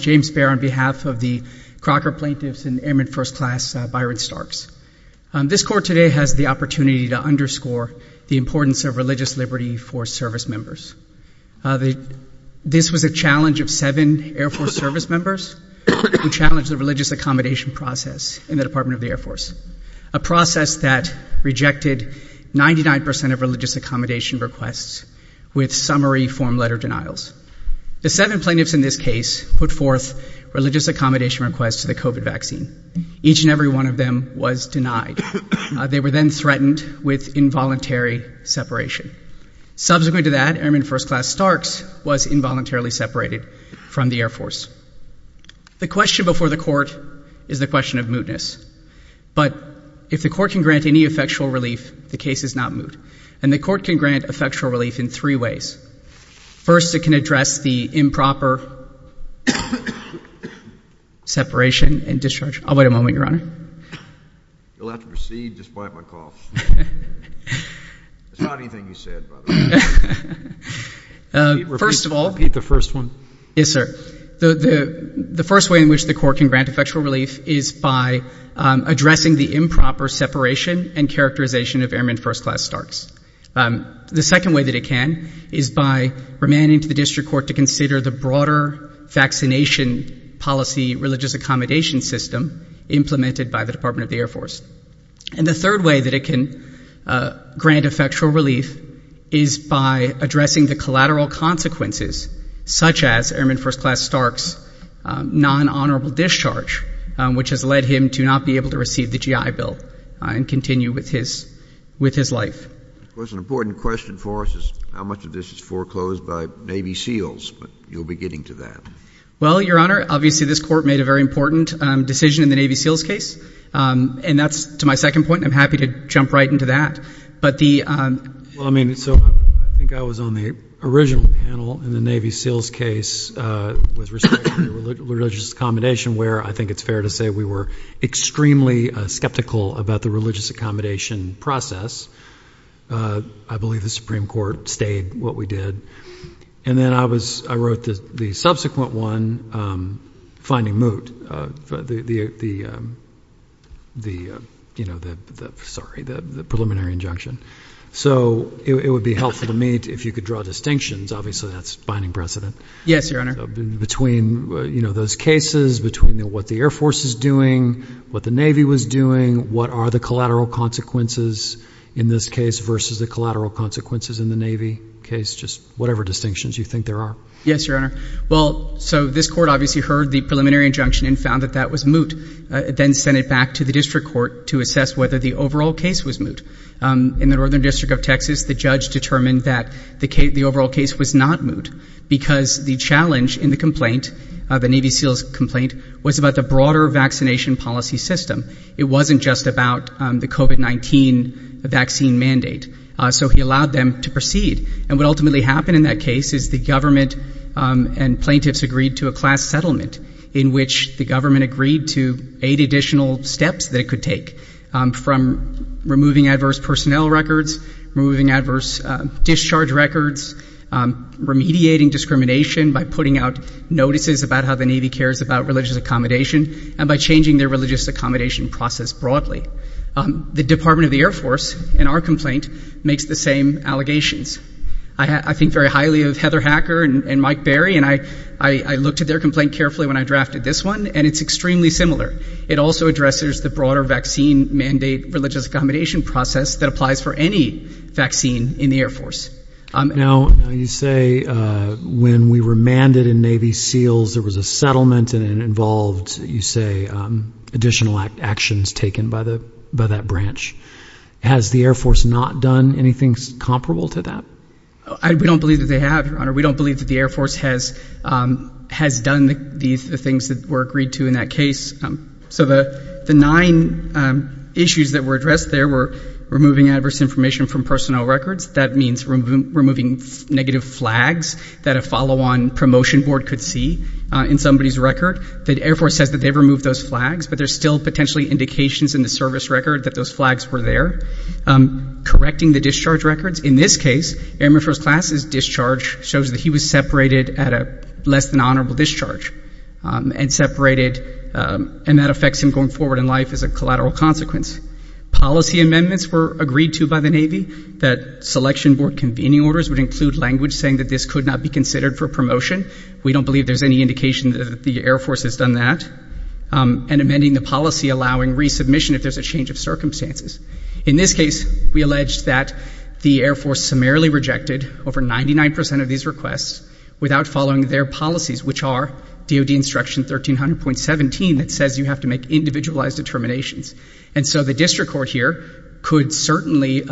James Fair on behalf of the Crocker plaintiffs and Airmen First Class Byron Starks. This court today has the opportunity to underscore the importance of religious liberty for service members. This was a challenge of seven Air Force service members who challenged the religious accommodation process in the Department of the Air Force, a process that rejected 99 percent of religious accommodation requests with summary form letter denials. The seven plaintiffs in this case put forth religious accommodation requests to the COVID vaccine. Each and every one of them was denied. They were then threatened with involuntary separation. Subsequent to that, Airmen First Class Starks was involuntarily separated from the Air Force. The question before the court is the question of mootness, but if the court can grant any effectual relief, the case is not moot. And the court can grant effectual relief in three ways. First, it can address the improper separation and discharge. I'll wait a moment, Your Honor. You'll have to proceed despite my coughs. It's not anything you said, by the way. First of all— Repeat the first one. Yes, sir. The first way in which the court can grant effectual relief is by addressing the improper separation and characterization of Airmen First Class Starks. The second way that it can is by remanding to the district court to consider the broader vaccination policy religious accommodation system implemented by the Department of the Air Force. And the third way that it can grant effectual relief is by addressing the collateral consequences, such as Airmen First Class Stark's nonhonorable discharge, which has led him to not be able to receive the GI Bill and continue with his life. Of course, an important question for us is how much of this is foreclosed by Navy SEALs, but you'll be getting to that. Well, Your Honor, obviously this court made a very important decision in the Navy SEALs case, and that's to my second point. I'm happy to jump right into that. Well, I mean, so I think I was on the original panel in the Navy SEALs case with respect to religious accommodation, where I think it's fair to say we were extremely skeptical about the religious accommodation process. I believe the Supreme Court stayed what we did. And then I wrote the subsequent one, finding moot, the preliminary injunction. So it would be helpful to me if you could draw distinctions. Obviously, that's binding precedent. Yes, Your Honor. Between those cases, between what the Air Force is doing, what the Navy was doing, what are the collateral consequences in this case versus the collateral consequences in the Navy case, just whatever distinctions you think there are. Yes, Your Honor. Well, so this court obviously heard the preliminary injunction and found that that was moot. It then sent it back to the district court to assess whether the overall case was moot. In the Northern District of Texas, the judge determined that the overall case was not moot because the challenge in the complaint, the Navy SEALs complaint, was about the broader vaccination policy system. It wasn't just about the COVID-19 vaccine mandate. So he allowed them to proceed. And what ultimately happened in that case is the government and plaintiffs agreed to a class settlement in which the government agreed to eight additional steps that it could take, from removing adverse personnel records, removing adverse discharge records, remediating discrimination by putting out notices about how the Navy cares about religious accommodation, and by changing their religious accommodation process broadly. The Department of the Air Force, in our complaint, makes the same allegations. I think very highly of Heather Hacker and Mike Berry, and I looked at their complaint carefully when I drafted this one, and it's extremely similar. It also addresses the broader vaccine mandate, religious accommodation process that applies for any vaccine in the Air Force. Now, you say when we remanded in Navy SEALs, there was a settlement and it involved, you say, additional actions taken by that branch. Has the Air Force not done anything comparable to that? We don't believe that they have, Your Honor. We don't believe that the Air Force has done the things that were agreed to in that case. So the nine issues that were addressed there were removing adverse information from personnel records. That means removing negative flags that a follow-on promotion board could see in somebody's record. The Air Force says that they've removed those flags, but there's still potentially indications in the service record that those flags were there. Correcting the discharge records. In this case, Airman Petro's class's discharge shows that he was separated at a less-than-honorable discharge and separated, and that affects him going forward in life as a collateral consequence. Policy amendments were agreed to by the Navy that selection board convening orders would include language saying that this could not be considered for promotion. We don't believe there's any indication that the Air Force has done that. And amending the policy allowing resubmission if there's a change of circumstances. In this case, we alleged that the Air Force summarily rejected over 99% of these requests without following their policies, which are DOD Instruction 1300.17 that says you have to make individualized determinations. And so the district court here could certainly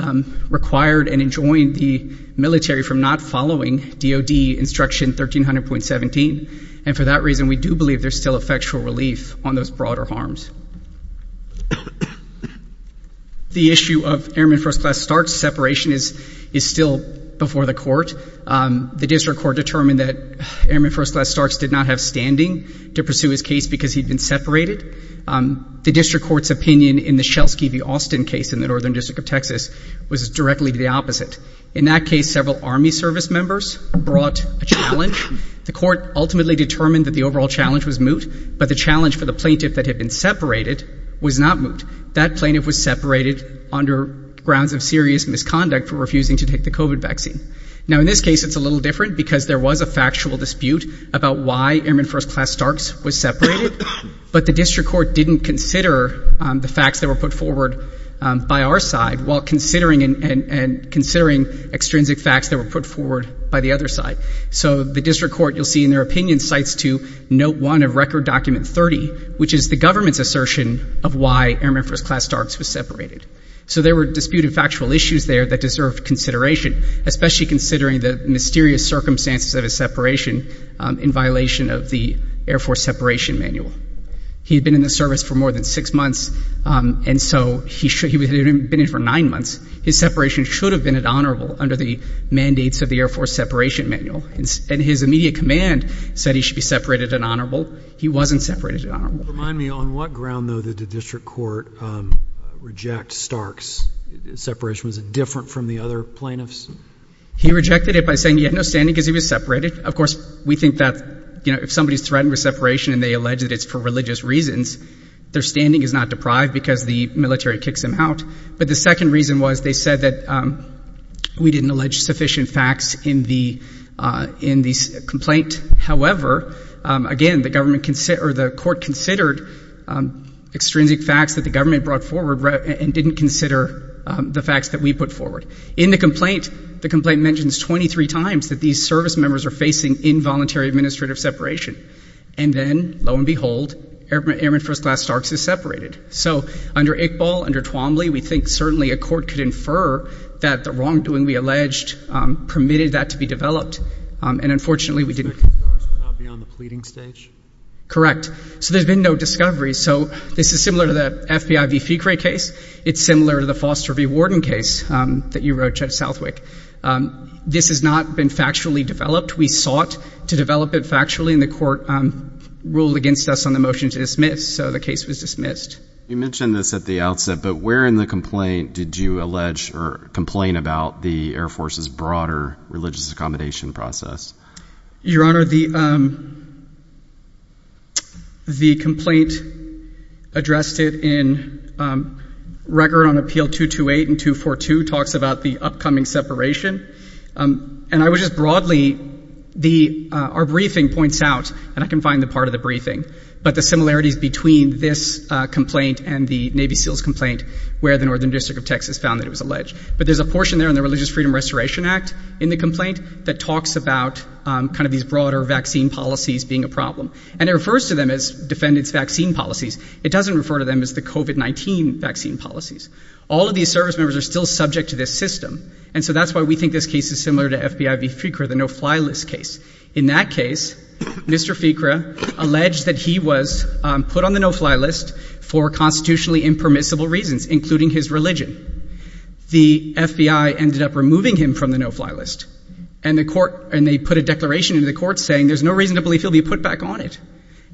require and enjoin the military from not following DOD Instruction 1300.17. And for that reason, we do believe there's still effectual relief on those broader The district court determined that Airman First Class Starks did not have standing to pursue his case because he'd been separated. The district court's opinion in the Shelsky v. Austin case in the Northern District of Texas was directly the opposite. In that case, several Army service members brought a challenge. The court ultimately determined that the overall challenge was moot, but the challenge for the plaintiff that had been separated was not moot. That plaintiff was separated under grounds of serious misconduct for refusing to take the COVID vaccine. Now, in this case, it's a little different because there was a factual dispute about why Airman First Class Starks was separated, but the district court didn't consider the facts that were put forward by our side while considering and considering extrinsic facts that were put forward by the other side. So the district court, you'll see in their opinion, cites to Note 1 of Record Document 30, which is the government's assertion of why Airman First Class Starks was separated. So there were disputed factual issues there that deserved consideration. Especially considering the mysterious circumstances of his separation in violation of the Air Force Separation Manual. He had been in the service for more than six months, and so he had been in for nine months. His separation should have been honorable under the mandates of the Air Force Separation Manual. And his immediate command said he should be separated and honorable. He wasn't separated and honorable. Remind me, on what ground, though, did the district court reject Starks' separation? Was it different from the other plaintiffs? Correct. So under Iqbal, under Twombly, we think certainly a court could infer that the wrongdoing we alleged permitted that to be developed. And unfortunately, we didn't. So Starks would not be on the pleading stage? Correct. So there's been no discovery. So this is similar to the FBI v. Fecre case. It's similar to the Foster v. Warden case that you wrote, Judge Southwick. This has not been factually developed. We sought to develop it factually, and the court ruled against us on the motion to dismiss. So the case was dismissed. You mentioned this at the outset, but where in the complaint did you allege or complain about the Air Force's broader religious accommodation process? Your Honor, the complaint addressed in Record on Appeal 228 and 242 talks about the upcoming separation. And I would just broadly, our briefing points out, and I can find the part of the briefing, but the similarities between this complaint and the Navy SEALs complaint where the Northern District of Texas found that it was alleged. But there's a portion there in the Religious Freedom Restoration Act in the complaint that talks about kind of these broader vaccine policies being a problem. And it refers to them as defendants' vaccine policies. It doesn't refer to them as the COVID-19 vaccine policies. All of these service members are still subject to this system. And so that's why we think this case is similar to FBI v. Fecre, the no-fly list case. In that case, Mr. Fecre alleged that he was put on the no-fly list for constitutionally impermissible reasons, including his religion. The FBI ended up removing him from the no-fly list. And they put a declaration into the court saying there's no reason to believe he'll be put back on it.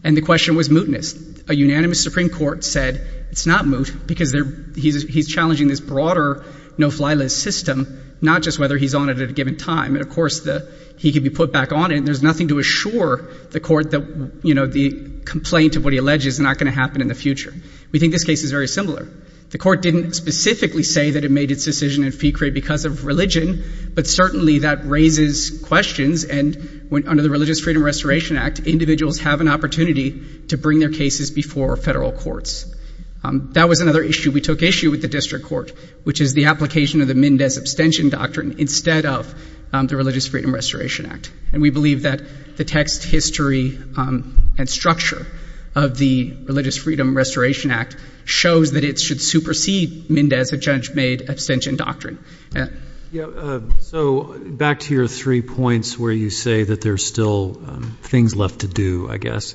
And the question was mootness. A unanimous Supreme Court said it's not moot because he's challenging this broader no-fly list system, not just whether he's on it at a given time. And, of course, he could be put back on it. And there's nothing to assure the court that the complaint of what he alleges is not going to happen in the future. We think this case is very similar. The court didn't specifically say that it made its decision in Fecre because of religion. But certainly, that raises questions. And under the Religious Freedom Restoration Act, individuals have an opportunity to bring their cases before federal courts. That was another issue we took issue with the district court, which is the application of the Mendez abstention doctrine instead of the Religious Freedom Restoration Act. And we believe that the text, history, and structure of the Religious Freedom Restoration Act shows that it should supersede Mendez, a judge-made abstention doctrine. So back to your three points where you say that there's still things left to do, I guess.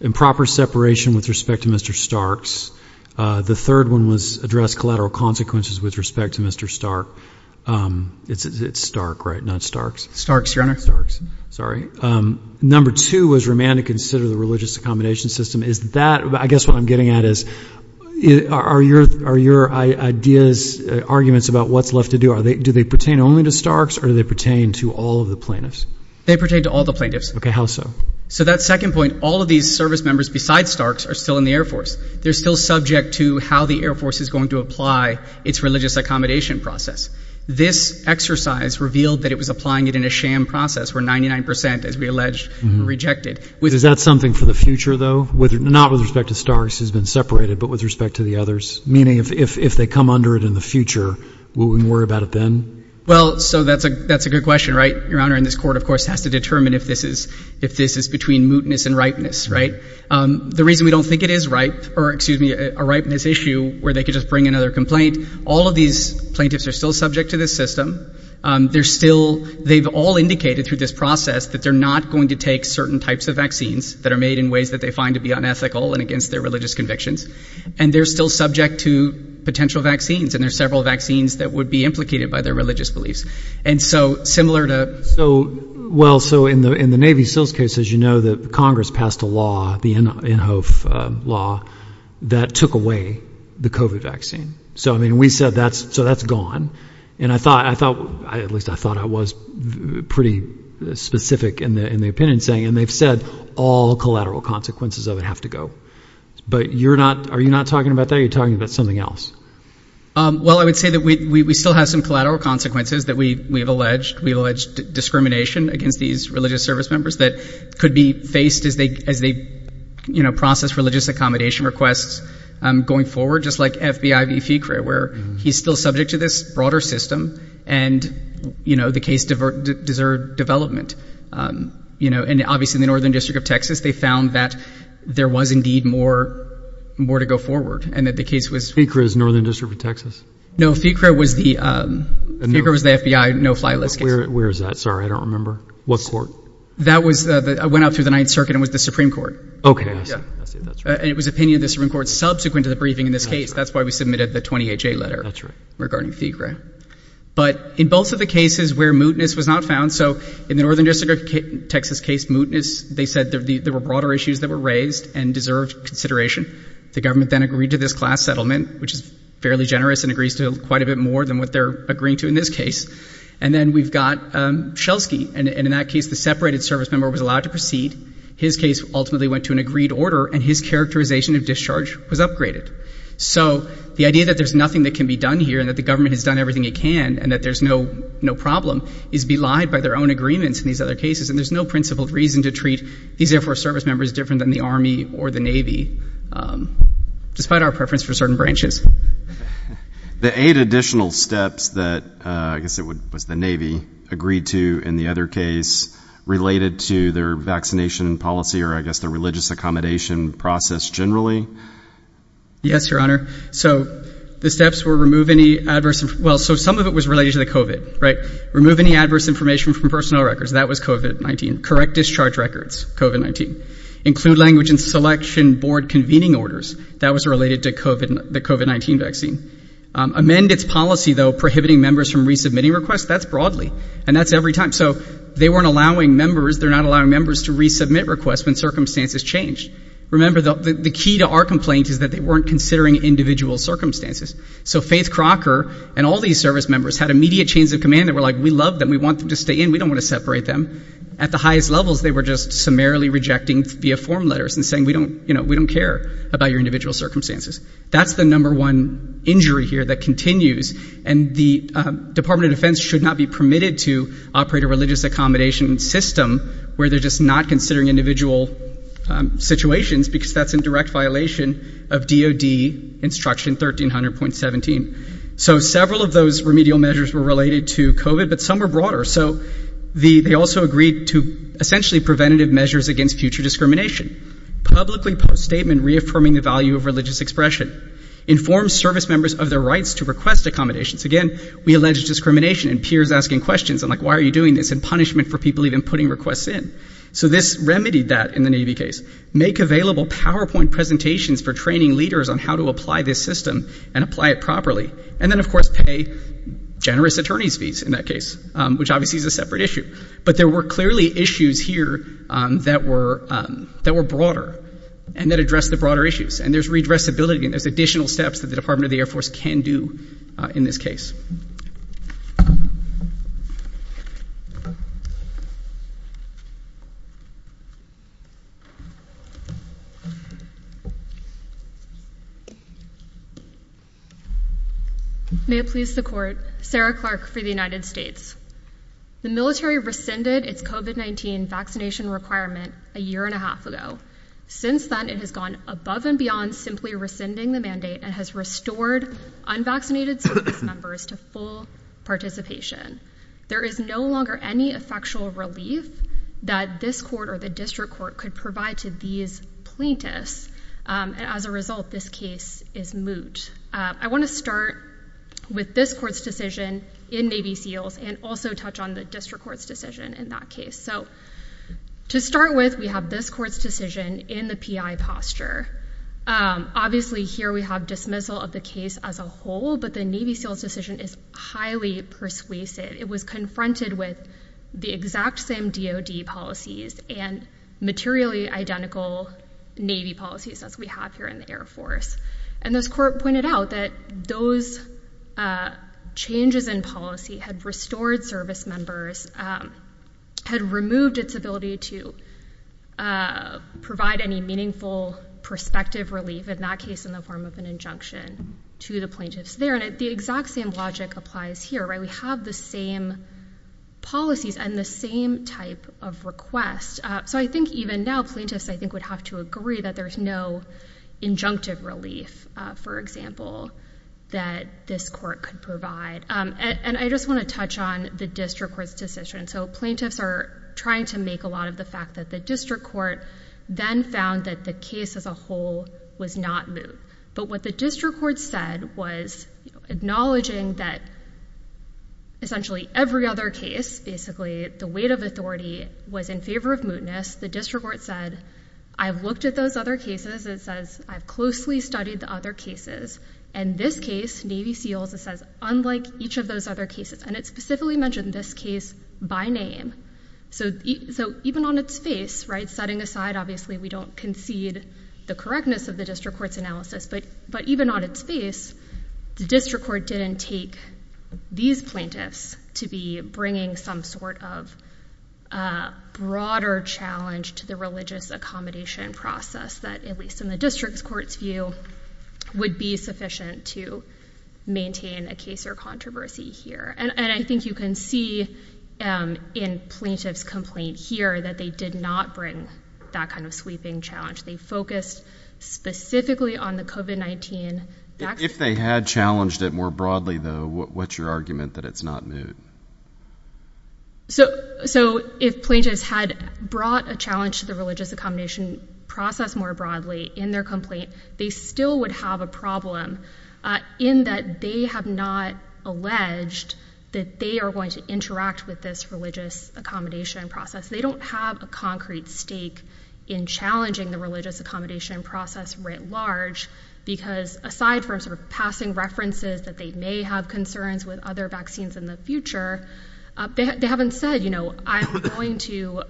Improper separation with respect to Mr. Starks. The third one was address collateral consequences with respect to Mr. Stark. It's Stark, right? Not Starks? Starks. Sorry. Number two was remand to consider the religious accommodation system. I guess what I'm getting at is, are your ideas, arguments about what's left to do, do they pertain only to Starks or do they pertain to all of the plaintiffs? They pertain to all the plaintiffs. Okay. How so? So that second point, all of these service members besides Starks are still in the Air Force. They're still subject to how the Air Force is going to apply its religious accommodation process. This exercise revealed that it was applying it in a sham process where 99 percent, as we alleged, were rejected. Is that something for the future, though? Not with respect to Starks who's been separated, but with respect to the others? Meaning if they come under it in the future, will we worry about it then? Well, so that's a good question, right, Your Honor? And this Court, of course, has to determine if this is between mootness and ripeness, right? The reason we don't think it is ripe, or excuse me, a ripeness issue where they could just bring another complaint, all of these plaintiffs are still subject to this system. They're still, they've all indicated through this process that they're not going to take certain types of vaccines that are made in ways that they find to be unethical and against their religious convictions. And they're still subject to potential vaccines, and there are several vaccines that would be implicated by their religious beliefs. And so similar to... So, well, so in the Navy SEALS case, as you know, that Congress passed a law, the Inhofe law, that took away the COVID vaccine. So, I mean, we said that's, so that's gone. And I thought, at least I thought I was pretty specific in the opinion saying, and they've said all collateral consequences of it have to go. But you're not, are you not talking about that? You're talking about something else. Well, I would say that we still have some collateral consequences that we've alleged. We've alleged discrimination against these religious service members that could be faced as they, you know, process religious accommodation requests going forward, just like FBI v. FICRE, where he's still subject to this broader system. And, you know, the case deserved development. You know, and obviously, in the Northern District of Texas, they found that there was indeed more to go forward, and that the case was... FICRE is Northern District of Texas? No, FICRE was the FBI no-fly list case. Where is that? Sorry, I don't remember. What court? That was, it went out through the Ninth Circuit and was the Supreme Court. Okay, I see. I see. That's right. But in both of the cases where mootness was not found, so in the Northern District of Texas case, mootness, they said there were broader issues that were raised and deserved consideration. The government then agreed to this class settlement, which is fairly generous and agrees to quite a bit more than what they're agreeing to in this case. And then we've got Shelsky, and in that case, the separated service member was allowed to proceed. His case ultimately went to an agreed order, and his characterization of discharge was upgraded. So the idea that there's nothing that can be done here and that the government has done everything it can and that there's no problem is belied by their own agreements in these other cases, and there's no principled reason to treat these Air Force service members different than the Army or the Navy, despite our preference for certain branches. The eight additional steps that, I guess it was the Navy, agreed to in the other case related to their vaccination policy or, I guess, their religious accommodation process generally? Yes, Your Honor. So the steps were remove any adverse, well, so some of it was related to the COVID, right? Remove any adverse information from personnel records. That was COVID-19. Amend its policy, though, prohibiting members from resubmitting requests. That's broadly, and that's every time. So they weren't allowing members, they're not allowing members to resubmit requests when circumstances change. Remember, the key to our complaint is that they weren't considering individual circumstances. So Faith Crocker and all these service members had immediate chains of command that were like, we love them, we want them to stay in, we don't want to separate them. At the highest levels, they were just summarily rejecting via form letters and saying, we don't, you know, we don't care about your individual circumstances. That's the number one injury here that continues, and the Department of Defense should not be permitted to operate a religious accommodation system where they're just not considering individual situations because that's in direct violation of DOD Instruction 1300.17. So several of those remedial measures were related to COVID, but some were broader. So they also agreed to essentially preventative measures against future discrimination. Publicly post-statement reaffirming the value of religious expression. Inform service members of their rights to request accommodations. Again, we allege discrimination and peers asking questions. I'm like, why are you doing this? And punishment for people even putting requests in. So this remedied that in the Navy case. Make available PowerPoint presentations for training leaders on how to apply this system and apply it properly. And then, of course, pay generous attorney's fees in that case, which obviously is a separate issue. But there were clearly issues here that were that were broader and that address the broader issues. And there's redress ability and there's additional steps that the Department of the Air Force can do in this case. May it please the court. Sarah Clark for the United States. The military rescinded its COVID-19 vaccination requirement a year and a half ago. Since then, it has gone above and beyond simply rescinding the mandate and has restored unvaccinated service members to full participation. There is no longer any effectual relief that this court or the district court could provide to these plaintiffs. And as a result, this case is moot. I want to start with this court's decision in Navy SEALs and also touch on the district court's decision in that case. So to start with, we have this court's decision in the P.I. posture. Obviously, here we have dismissal of the case as a whole, but the Navy SEALs decision is highly persuasive. It was confronted with the exact same DOD policies and materially identical Navy policies as we have here in the Air Force. And this court pointed out that those changes in policy had restored service members, had removed its ability to provide any meaningful prospective relief in that case in the form of an injunction to the plaintiffs there. And the exact same logic applies here, right? We have the same policies and the same type of request. So I think even now, plaintiffs, I think, would have to agree that there's no injunctive relief, for example, that this court could provide. And I just want to touch on the district court's decision. So plaintiffs are trying to make a lot of the fact that the district court then found that the case as a whole was not moot. But what the district court said was acknowledging that essentially every other case, basically the weight of authority, was in favor of mootness. The district court said, I've looked at those other cases. It says, I've closely studied the other cases. And this case, Navy SEALs, it says, unlike each of those other cases. And it specifically mentioned this case by name. So even on its face, setting aside, obviously, we don't concede the correctness of the district court's analysis. But even on its face, the district court didn't take these plaintiffs to be bringing some sort of broader challenge to the religious accommodation process that, at least in the district court's view, would be sufficient to maintain a case or controversy here. And I think you can see in plaintiff's complaint here that they did not bring that kind of sweeping challenge. They focused specifically on the COVID-19 vaccine. If they had challenged it more broadly, though, what's your argument that it's not moot? So if plaintiffs had brought a challenge to the religious accommodation process more broadly in their complaint, they still would have a problem in that they have not alleged that they are going to interact with this religious accommodation process. They don't have a concrete stake in challenging the religious accommodation process writ large. Because aside from sort of passing references that they may have concerns with other vaccines in the future, they haven't said, you know, I'm going to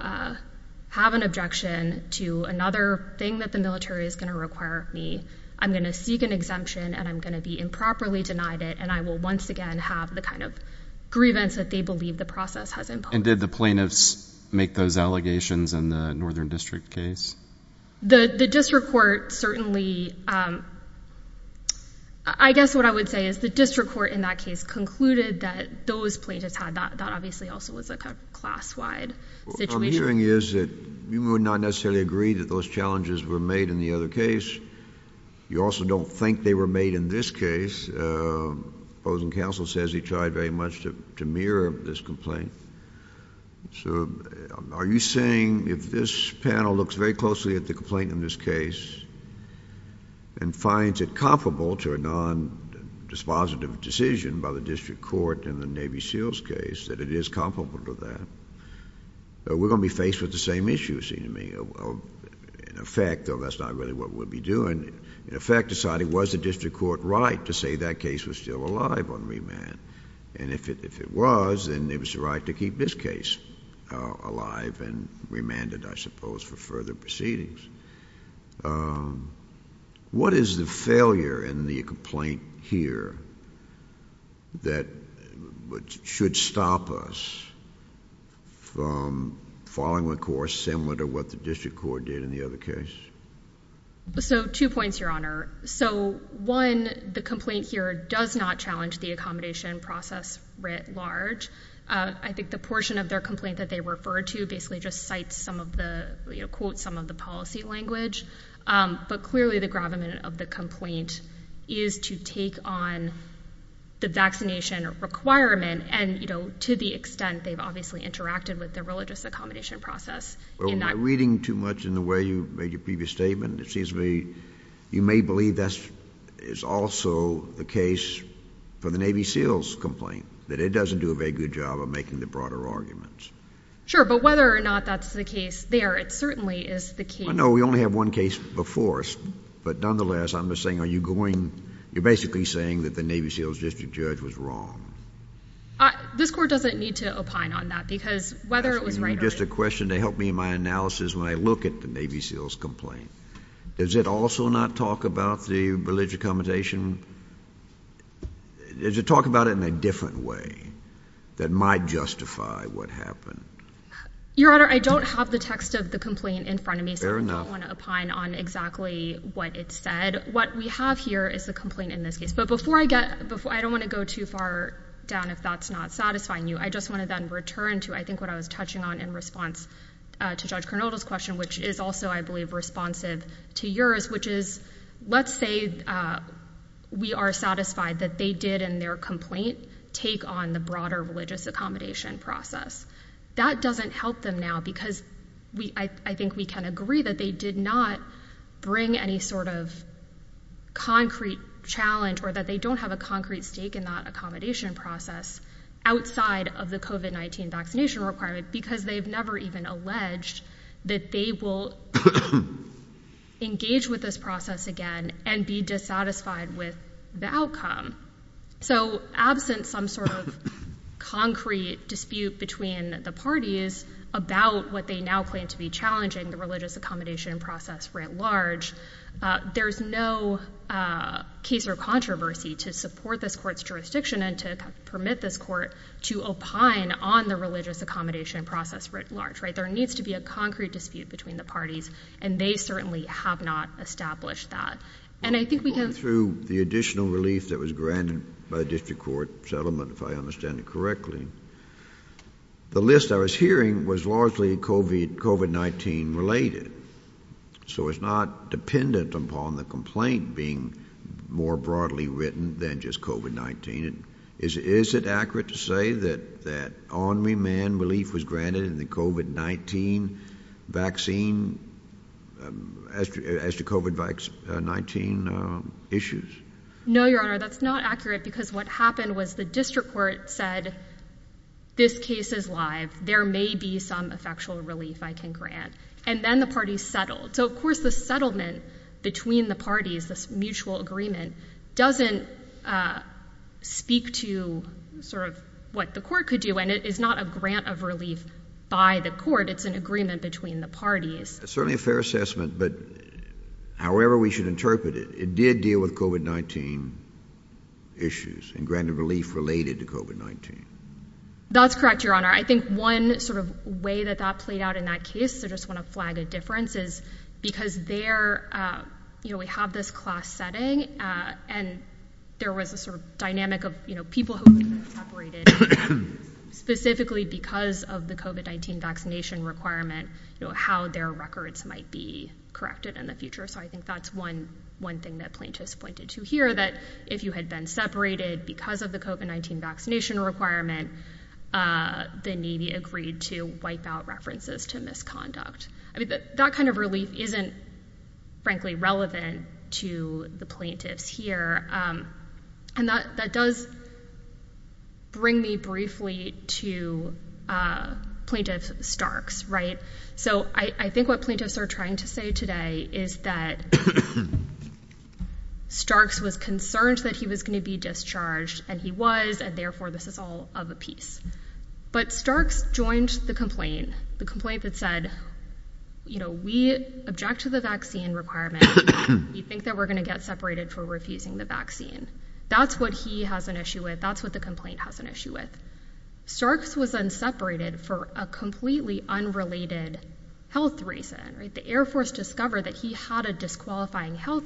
have an objection to another thing that the military is going to require me. I'm going to seek an exemption, and I'm going to be improperly denied it. And I will once again have the kind of grievance that they believe the process has involved. And did the plaintiffs make those allegations in the Northern District case? The district court certainly, I guess what I would say is the district court in that case concluded that those plaintiffs had that. That obviously also was a class-wide situation. What I'm hearing is that you would not necessarily agree that those challenges were made in the other case. You also don't think they were made in this case. The opposing counsel says he tried very much to mirror this complaint. So are you saying if this panel looks very closely at the complaint in this case and finds it comparable to a non-dispositive decision by the district court in the Navy SEALs case, that it is comparable to that? We're going to be faced with the same issue, it seems to me. In effect, though that's not really what we'll be doing, in effect deciding was the district court right to say that case was still alive on remand? And if it was, then it was the right to keep this case alive and remanded, I suppose, for further proceedings. What is the failure in the complaint here that should stop us from following a course similar to what the district court did in the other case? Two points, Your Honor. One, the complaint here does not challenge the accommodation process writ large. I think the portion of their complaint that they referred to basically just cites some of the, you know, quotes some of the policy language. But clearly the gravamen of the complaint is to take on the vaccination requirement and, you know, to the extent they've obviously interacted with the religious accommodation process. Well, am I reading too much in the way you made your previous statement? It seems to me you may believe this is also the case for the Navy SEALs complaint, that it doesn't do a very good job of making the broader arguments. Sure, but whether or not that's the case there, it certainly is the case. No, we only have one case before us. But nonetheless, I'm just saying are you going, you're basically saying that the Navy SEALs district judge was wrong. This court doesn't need to opine on that because whether it was right or wrong. I have just a question to help me in my analysis when I look at the Navy SEALs complaint. Does it also not talk about the religious accommodation? Does it talk about it in a different way that might justify what happened? Your Honor, I don't have the text of the complaint in front of me. Fair enough. So I don't want to opine on exactly what it said. What we have here is the complaint in this case. But before I get, I don't want to go too far down if that's not satisfying you. I just want to then return to I think what I was touching on in response to Judge Cornelius' question, which is also I believe responsive to yours, which is let's say we are satisfied that they did in their complaint take on the broader religious accommodation process. That doesn't help them now because I think we can agree that they did not bring any sort of concrete challenge or that they don't have a concrete stake in that accommodation process outside of the COVID-19 vaccination requirement because they've never even alleged that they will engage with this process again and be dissatisfied with the outcome. So absent some sort of concrete dispute between the parties about what they now claim to be challenging, the religious accommodation process writ large, there's no case or controversy to support this court's jurisdiction and to permit this court to opine on the religious accommodation process writ large. There needs to be a concrete dispute between the parties, and they certainly have not established that. Going through the additional relief that was granted by the district court settlement, if I understand it correctly, the list I was hearing was largely COVID-19 related. So it's not dependent upon the complaint being more broadly written than just COVID-19. Is it accurate to say that only man relief was granted in the COVID-19 vaccine as to COVID-19 issues? No, Your Honor, that's not accurate because what happened was the district court said this case is live. There may be some effectual relief I can grant. And then the parties settled. So, of course, the settlement between the parties, this mutual agreement, doesn't speak to sort of what the court could do. And it is not a grant of relief by the court. It's an agreement between the parties. Certainly a fair assessment. But however we should interpret it, it did deal with COVID-19 issues and granted relief related to COVID-19. That's correct, Your Honor. I think one sort of way that that played out in that case, I just want to flag a difference, is because there, you know, we have this class setting. And there was a sort of dynamic of, you know, people who were separated specifically because of the COVID-19 vaccination requirement, how their records might be corrected in the future. So I think that's one thing that plaintiffs pointed to here, that if you had been separated because of the COVID-19 vaccination requirement, the Navy agreed to wipe out references to misconduct. I mean, that kind of relief isn't, frankly, relevant to the plaintiffs here. And that does bring me briefly to Plaintiff Starks, right? So I think what plaintiffs are trying to say today is that Starks was concerned that he was going to be discharged, and he was, and therefore this is all of a piece. But Starks joined the complaint, the complaint that said, you know, we object to the vaccine requirement. We think that we're going to get separated for refusing the vaccine. That's what he has an issue with. That's what the complaint has an issue with. Starks was then separated for a completely unrelated health reason, right? The Air Force discovered that he had a disqualifying health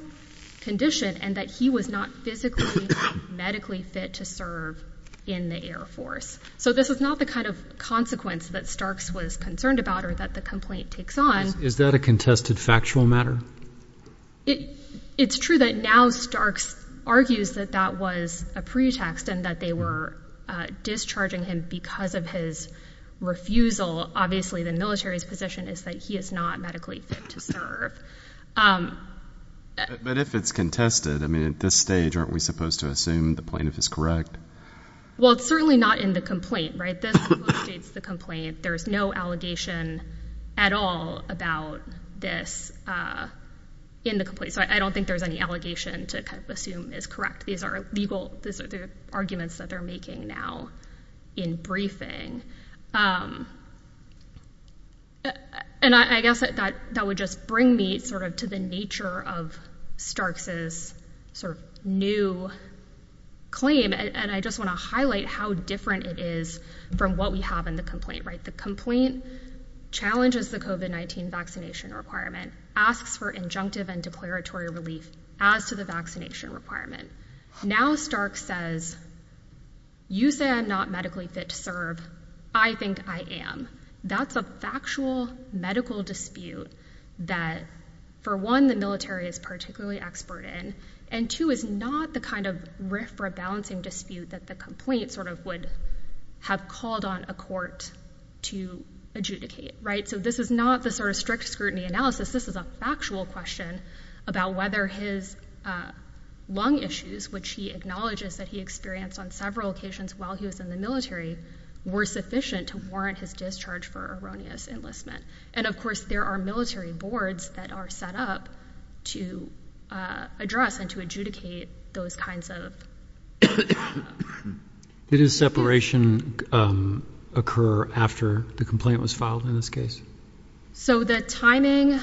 condition and that he was not physically, medically fit to serve in the Air Force. So this is not the kind of consequence that Starks was concerned about or that the complaint takes on. Is that a contested factual matter? It's true that now Starks argues that that was a pretext and that they were discharging him because of his refusal. Obviously, the military's position is that he is not medically fit to serve. But if it's contested, I mean, at this stage, aren't we supposed to assume the plaintiff is correct? Well, it's certainly not in the complaint, right? There's no allegation at all about this in the complaint. So I don't think there's any allegation to assume is correct. These are legal arguments that they're making now in briefing. And I guess that would just bring me sort of to the nature of Starks's sort of new claim. And I just want to highlight how different it is from what we have in the complaint. Right. The complaint challenges the COVID-19 vaccination requirement, asks for injunctive and declaratory relief as to the vaccination requirement. Now, Stark says, you say I'm not medically fit to serve. I think I am. That's a factual medical dispute that, for one, the military is particularly expert in. And two, is not the kind of rift or a balancing dispute that the complaint sort of would have called on a court to adjudicate. Right. So this is not the sort of strict scrutiny analysis. This is a factual question about whether his lung issues, which he acknowledges that he experienced on several occasions while he was in the military, were sufficient to warrant his discharge for erroneous enlistment. And of course, there are military boards that are set up to address and to adjudicate those kinds of. Did his separation occur after the complaint was filed in this case? So the timing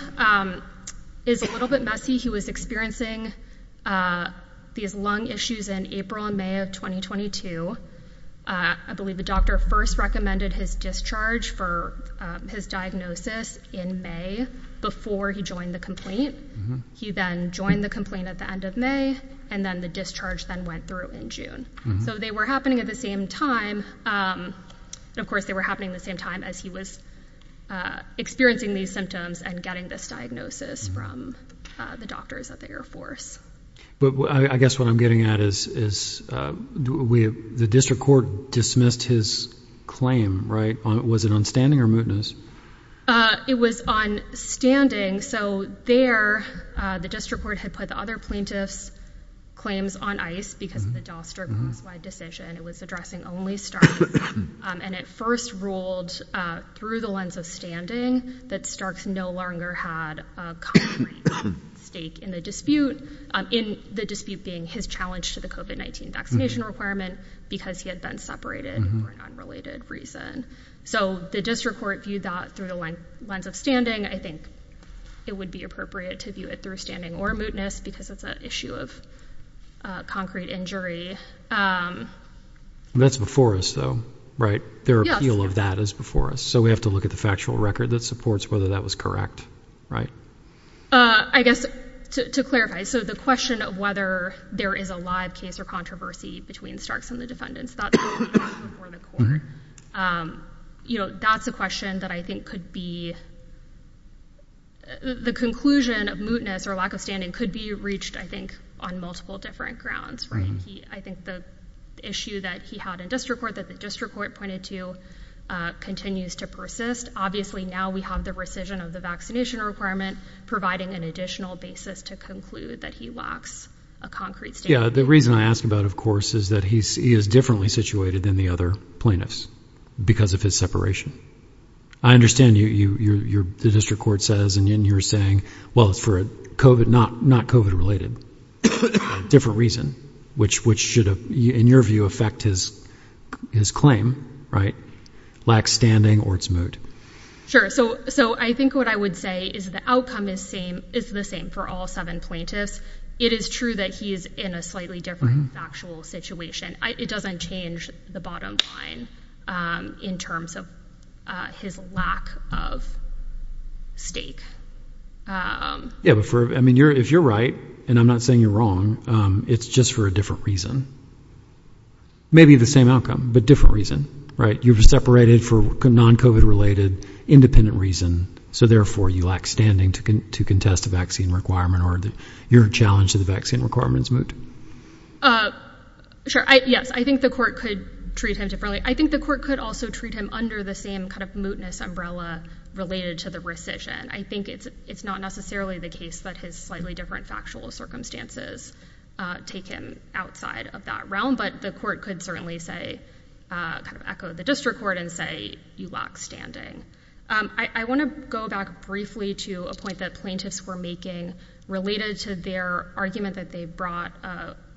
is a little bit messy. He was experiencing these lung issues in April and May of 2022. I believe the doctor first recommended his discharge for his diagnosis in May before he joined the complaint. He then joined the complaint at the end of May and then the discharge then went through in June. So they were happening at the same time. Of course, they were happening the same time as he was experiencing these symptoms and getting this diagnosis from the doctors at the Air Force. But I guess what I'm getting at is we have the district court dismissed his claim. Right. Was it on standing or mootness? It was on standing. So there the district court had put the other plaintiff's claims on ice because of the Dostar decision. It was addressing only Stark and it first ruled through the lens of standing that Starks no longer had a concrete stake in the dispute, in the dispute being his challenge to the COVID-19 vaccination requirement because he had been separated for an unrelated reason. So the district court viewed that through the lens of standing. I think it would be appropriate to view it through standing or mootness because it's an issue of concrete injury. That's before us, though. Right. Their appeal of that is before us. So we have to look at the factual record that supports whether that was correct. Right. I guess to clarify. So the question of whether there is a live case or controversy between Starks and the defendants. You know, that's a question that I think could be. The conclusion of mootness or lack of standing could be reached, I think, on multiple different grounds. I think the issue that he had in district court that the district court pointed to continues to persist. Obviously, now we have the rescission of the vaccination requirement, providing an additional basis to conclude that he lacks a concrete stake. The reason I ask about, of course, is that he is differently situated than the other plaintiffs because of his separation. I understand you. You're the district court says. And you're saying, well, it's for COVID, not not COVID related different reason, which which should, in your view, affect his his claim. Right. Lack standing or it's moot. Sure. So so I think what I would say is the outcome is same is the same for all seven plaintiffs. It is true that he is in a slightly different factual situation. It doesn't change the bottom line in terms of his lack of stake. Yeah. I mean, you're if you're right and I'm not saying you're wrong. It's just for a different reason. Maybe the same outcome, but different reason. Right. You've separated for non COVID related independent reason. So therefore, you lack standing to contest the vaccine requirement or your challenge to the vaccine requirements. Sure. Yes, I think the court could treat him differently. I think the court could also treat him under the same kind of mootness umbrella related to the rescission. I think it's it's not necessarily the case that his slightly different factual circumstances take him outside of that realm. But the court could certainly say kind of echo the district court and say you lack standing. I want to go back briefly to a point that plaintiffs were making related to their argument that they brought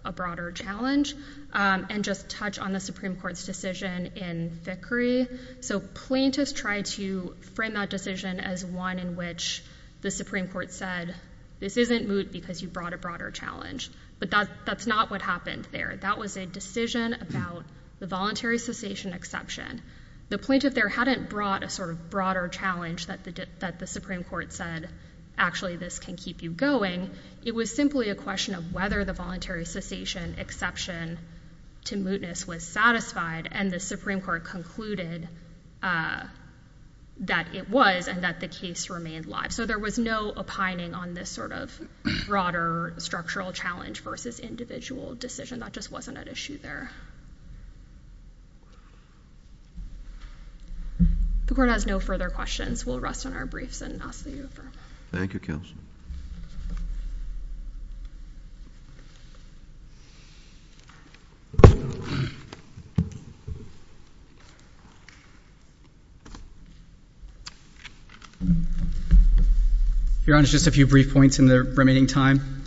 a broader challenge and just touch on the Supreme Court's decision in Vickrey. So plaintiffs tried to frame that decision as one in which the Supreme Court said this isn't moot because you brought a broader challenge. But that's not what happened there. That was a decision about the voluntary cessation exception. The plaintiff there hadn't brought a sort of broader challenge that the that the Supreme Court said, actually, this can keep you going. It was simply a question of whether the voluntary cessation exception to mootness was satisfied. And the Supreme Court concluded that it was and that the case remained live. So there was no opining on this sort of broader structural challenge versus individual decision. That just wasn't an issue there. The court has no further questions. We'll rest on our briefs and ask that you refer. Thank you, Counsel. Your Honor, just a few brief points in the remaining time.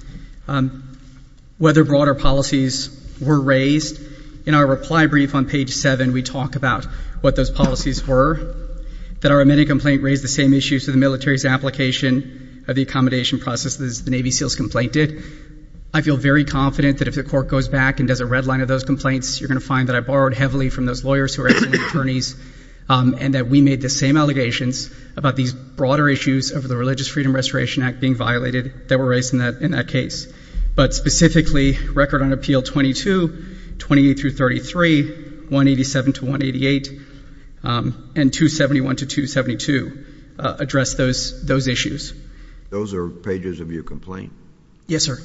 Whether broader policies were raised in our reply brief on page seven, what those policies were, that our amended complaint raised the same issues to the military's application of the accommodation process as the Navy SEALs complained it. I feel very confident that if the court goes back and does a red line of those complaints, you're going to find that I borrowed heavily from those lawyers who are attorneys and that we made the same allegations about these broader issues of the Religious Freedom Restoration Act being violated that were raised in that case. But specifically, Record on Appeal 22, 28 through 33, 187 to 188, and 271 to 272 address those issues. Those are pages of your complaint? Yes, sir.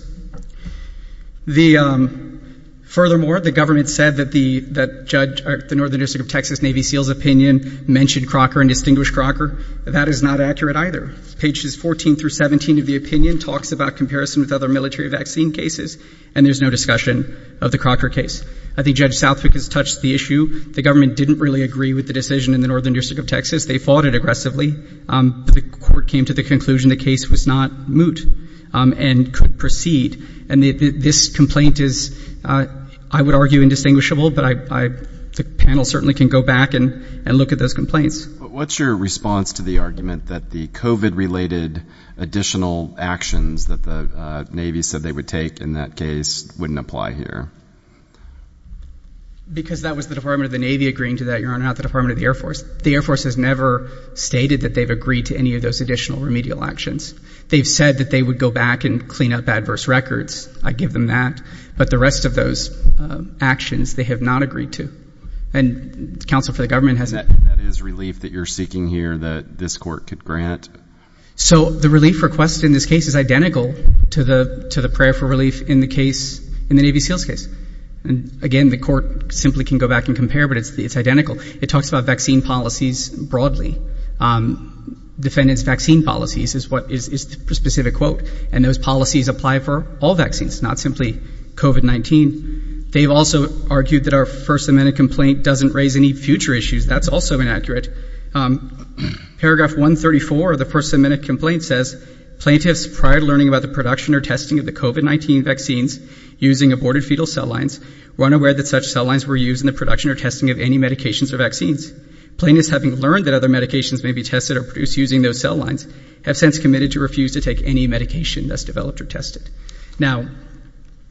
Furthermore, the government said that the judge, the Northern District of Texas Navy SEALs opinion mentioned Crocker and distinguished Crocker. That is not accurate either. Pages 14 through 17 of the opinion talks about comparison with other military vaccine cases, and there's no discussion of the Crocker case. I think Judge Southwick has touched the issue. The government didn't really agree with the decision in the Northern District of Texas. They fought it aggressively. The court came to the conclusion the case was not moot and could proceed. And this complaint is, I would argue, indistinguishable, but the panel certainly can go back and look at those complaints. What's your response to the argument that the COVID-related additional actions that the Navy said they would take in that case wouldn't apply here? Because that was the Department of the Navy agreeing to that, Your Honor, not the Department of the Air Force. The Air Force has never stated that they've agreed to any of those additional remedial actions. They've said that they would go back and clean up adverse records. I give them that. But the rest of those actions they have not agreed to. And counsel for the government hasn't. That is relief that you're seeking here that this court could grant? So the relief request in this case is identical to the prayer for relief in the case, in the Navy SEALs case. And, again, the court simply can go back and compare, but it's identical. It talks about vaccine policies broadly. Defendants' vaccine policies is the specific quote, and those policies apply for all vaccines, not simply COVID-19. They've also argued that our First Amendment complaint doesn't raise any future issues. That's also inaccurate. Paragraph 134 of the First Amendment complaint says, Plaintiffs, prior to learning about the production or testing of the COVID-19 vaccines using aborted fetal cell lines, were unaware that such cell lines were used in the production or testing of any medications or vaccines. Plaintiffs, having learned that other medications may be tested or produced using those cell lines, have since committed to refuse to take any medication that's developed or tested. Now,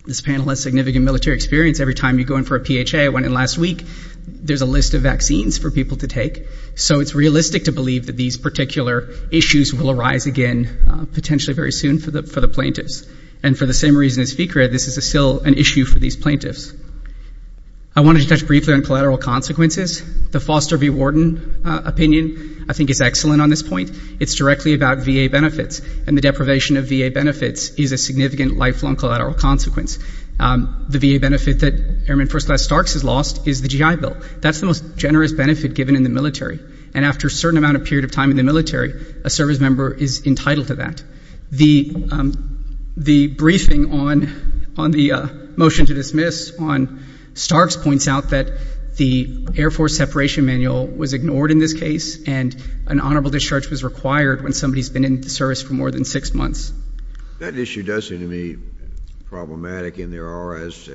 this panel has significant military experience. Every time you go in for a PHA, I went in last week, there's a list of vaccines for people to take. So it's realistic to believe that these particular issues will arise again, potentially very soon, for the plaintiffs. And for the same reason as VCRA, this is still an issue for these plaintiffs. I wanted to touch briefly on collateral consequences. The Foster v. Warden opinion, I think, is excellent on this point. It's directly about VA benefits. And the deprivation of VA benefits is a significant lifelong collateral consequence. The VA benefit that Airman First Class Starks has lost is the GI Bill. That's the most generous benefit given in the military. And after a certain amount of period of time in the military, a service member is entitled to that. The briefing on the motion to dismiss on Starks points out that the Air Force separation manual was ignored in this case and an honorable discharge was required when somebody's been in the service for more than six months. That issue does seem to me problematic, and there are, as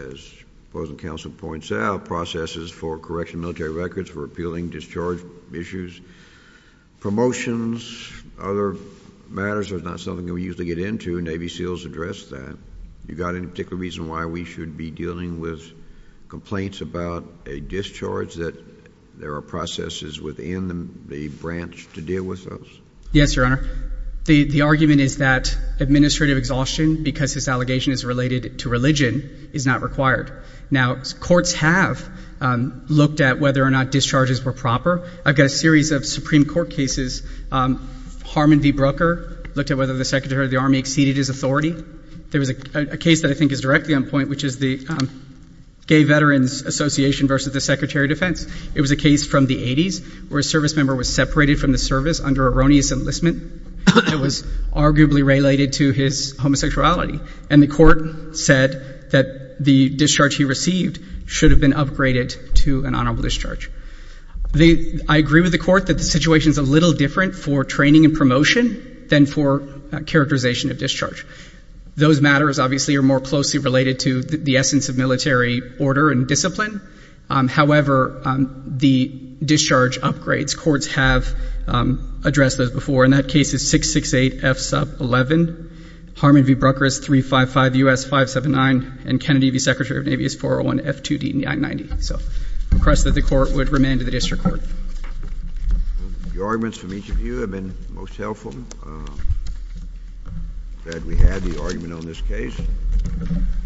opposing counsel points out, processes for correction of military records, for appealing discharge issues, promotions, other matters. There's not something that we usually get into. Navy SEALs address that. You've got any particular reason why we should be dealing with complaints about a discharge, that there are processes within the branch to deal with those? Yes, Your Honor. The argument is that administrative exhaustion, because this allegation is related to religion, is not required. Now, courts have looked at whether or not discharges were proper. I've got a series of Supreme Court cases. Harmon v. Brooker looked at whether the Secretary of the Army exceeded his authority. There was a case that I think is directly on point, which is the Gay Veterans Association v. the Secretary of Defense. It was a case from the 80s where a service member was separated from the service under erroneous enlistment that was arguably related to his homosexuality, and the court said that the discharge he received should have been upgraded to an honorable discharge. I agree with the court that the situation is a little different for training and promotion than for characterization of discharge. Those matters, obviously, are more closely related to the essence of military order and discipline. However, the discharge upgrades, courts have addressed those before. And that case is 668F sub 11. Harmon v. Brooker is 355US579, and Kennedy v. Secretary of the Navy is 401F2D990. So I request that the court would remain to the district court. The arguments from each of you have been most helpful. I'm glad we had the argument on this case.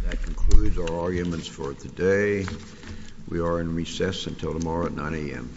That concludes our arguments for today. We are in recess until tomorrow at 9 a.m.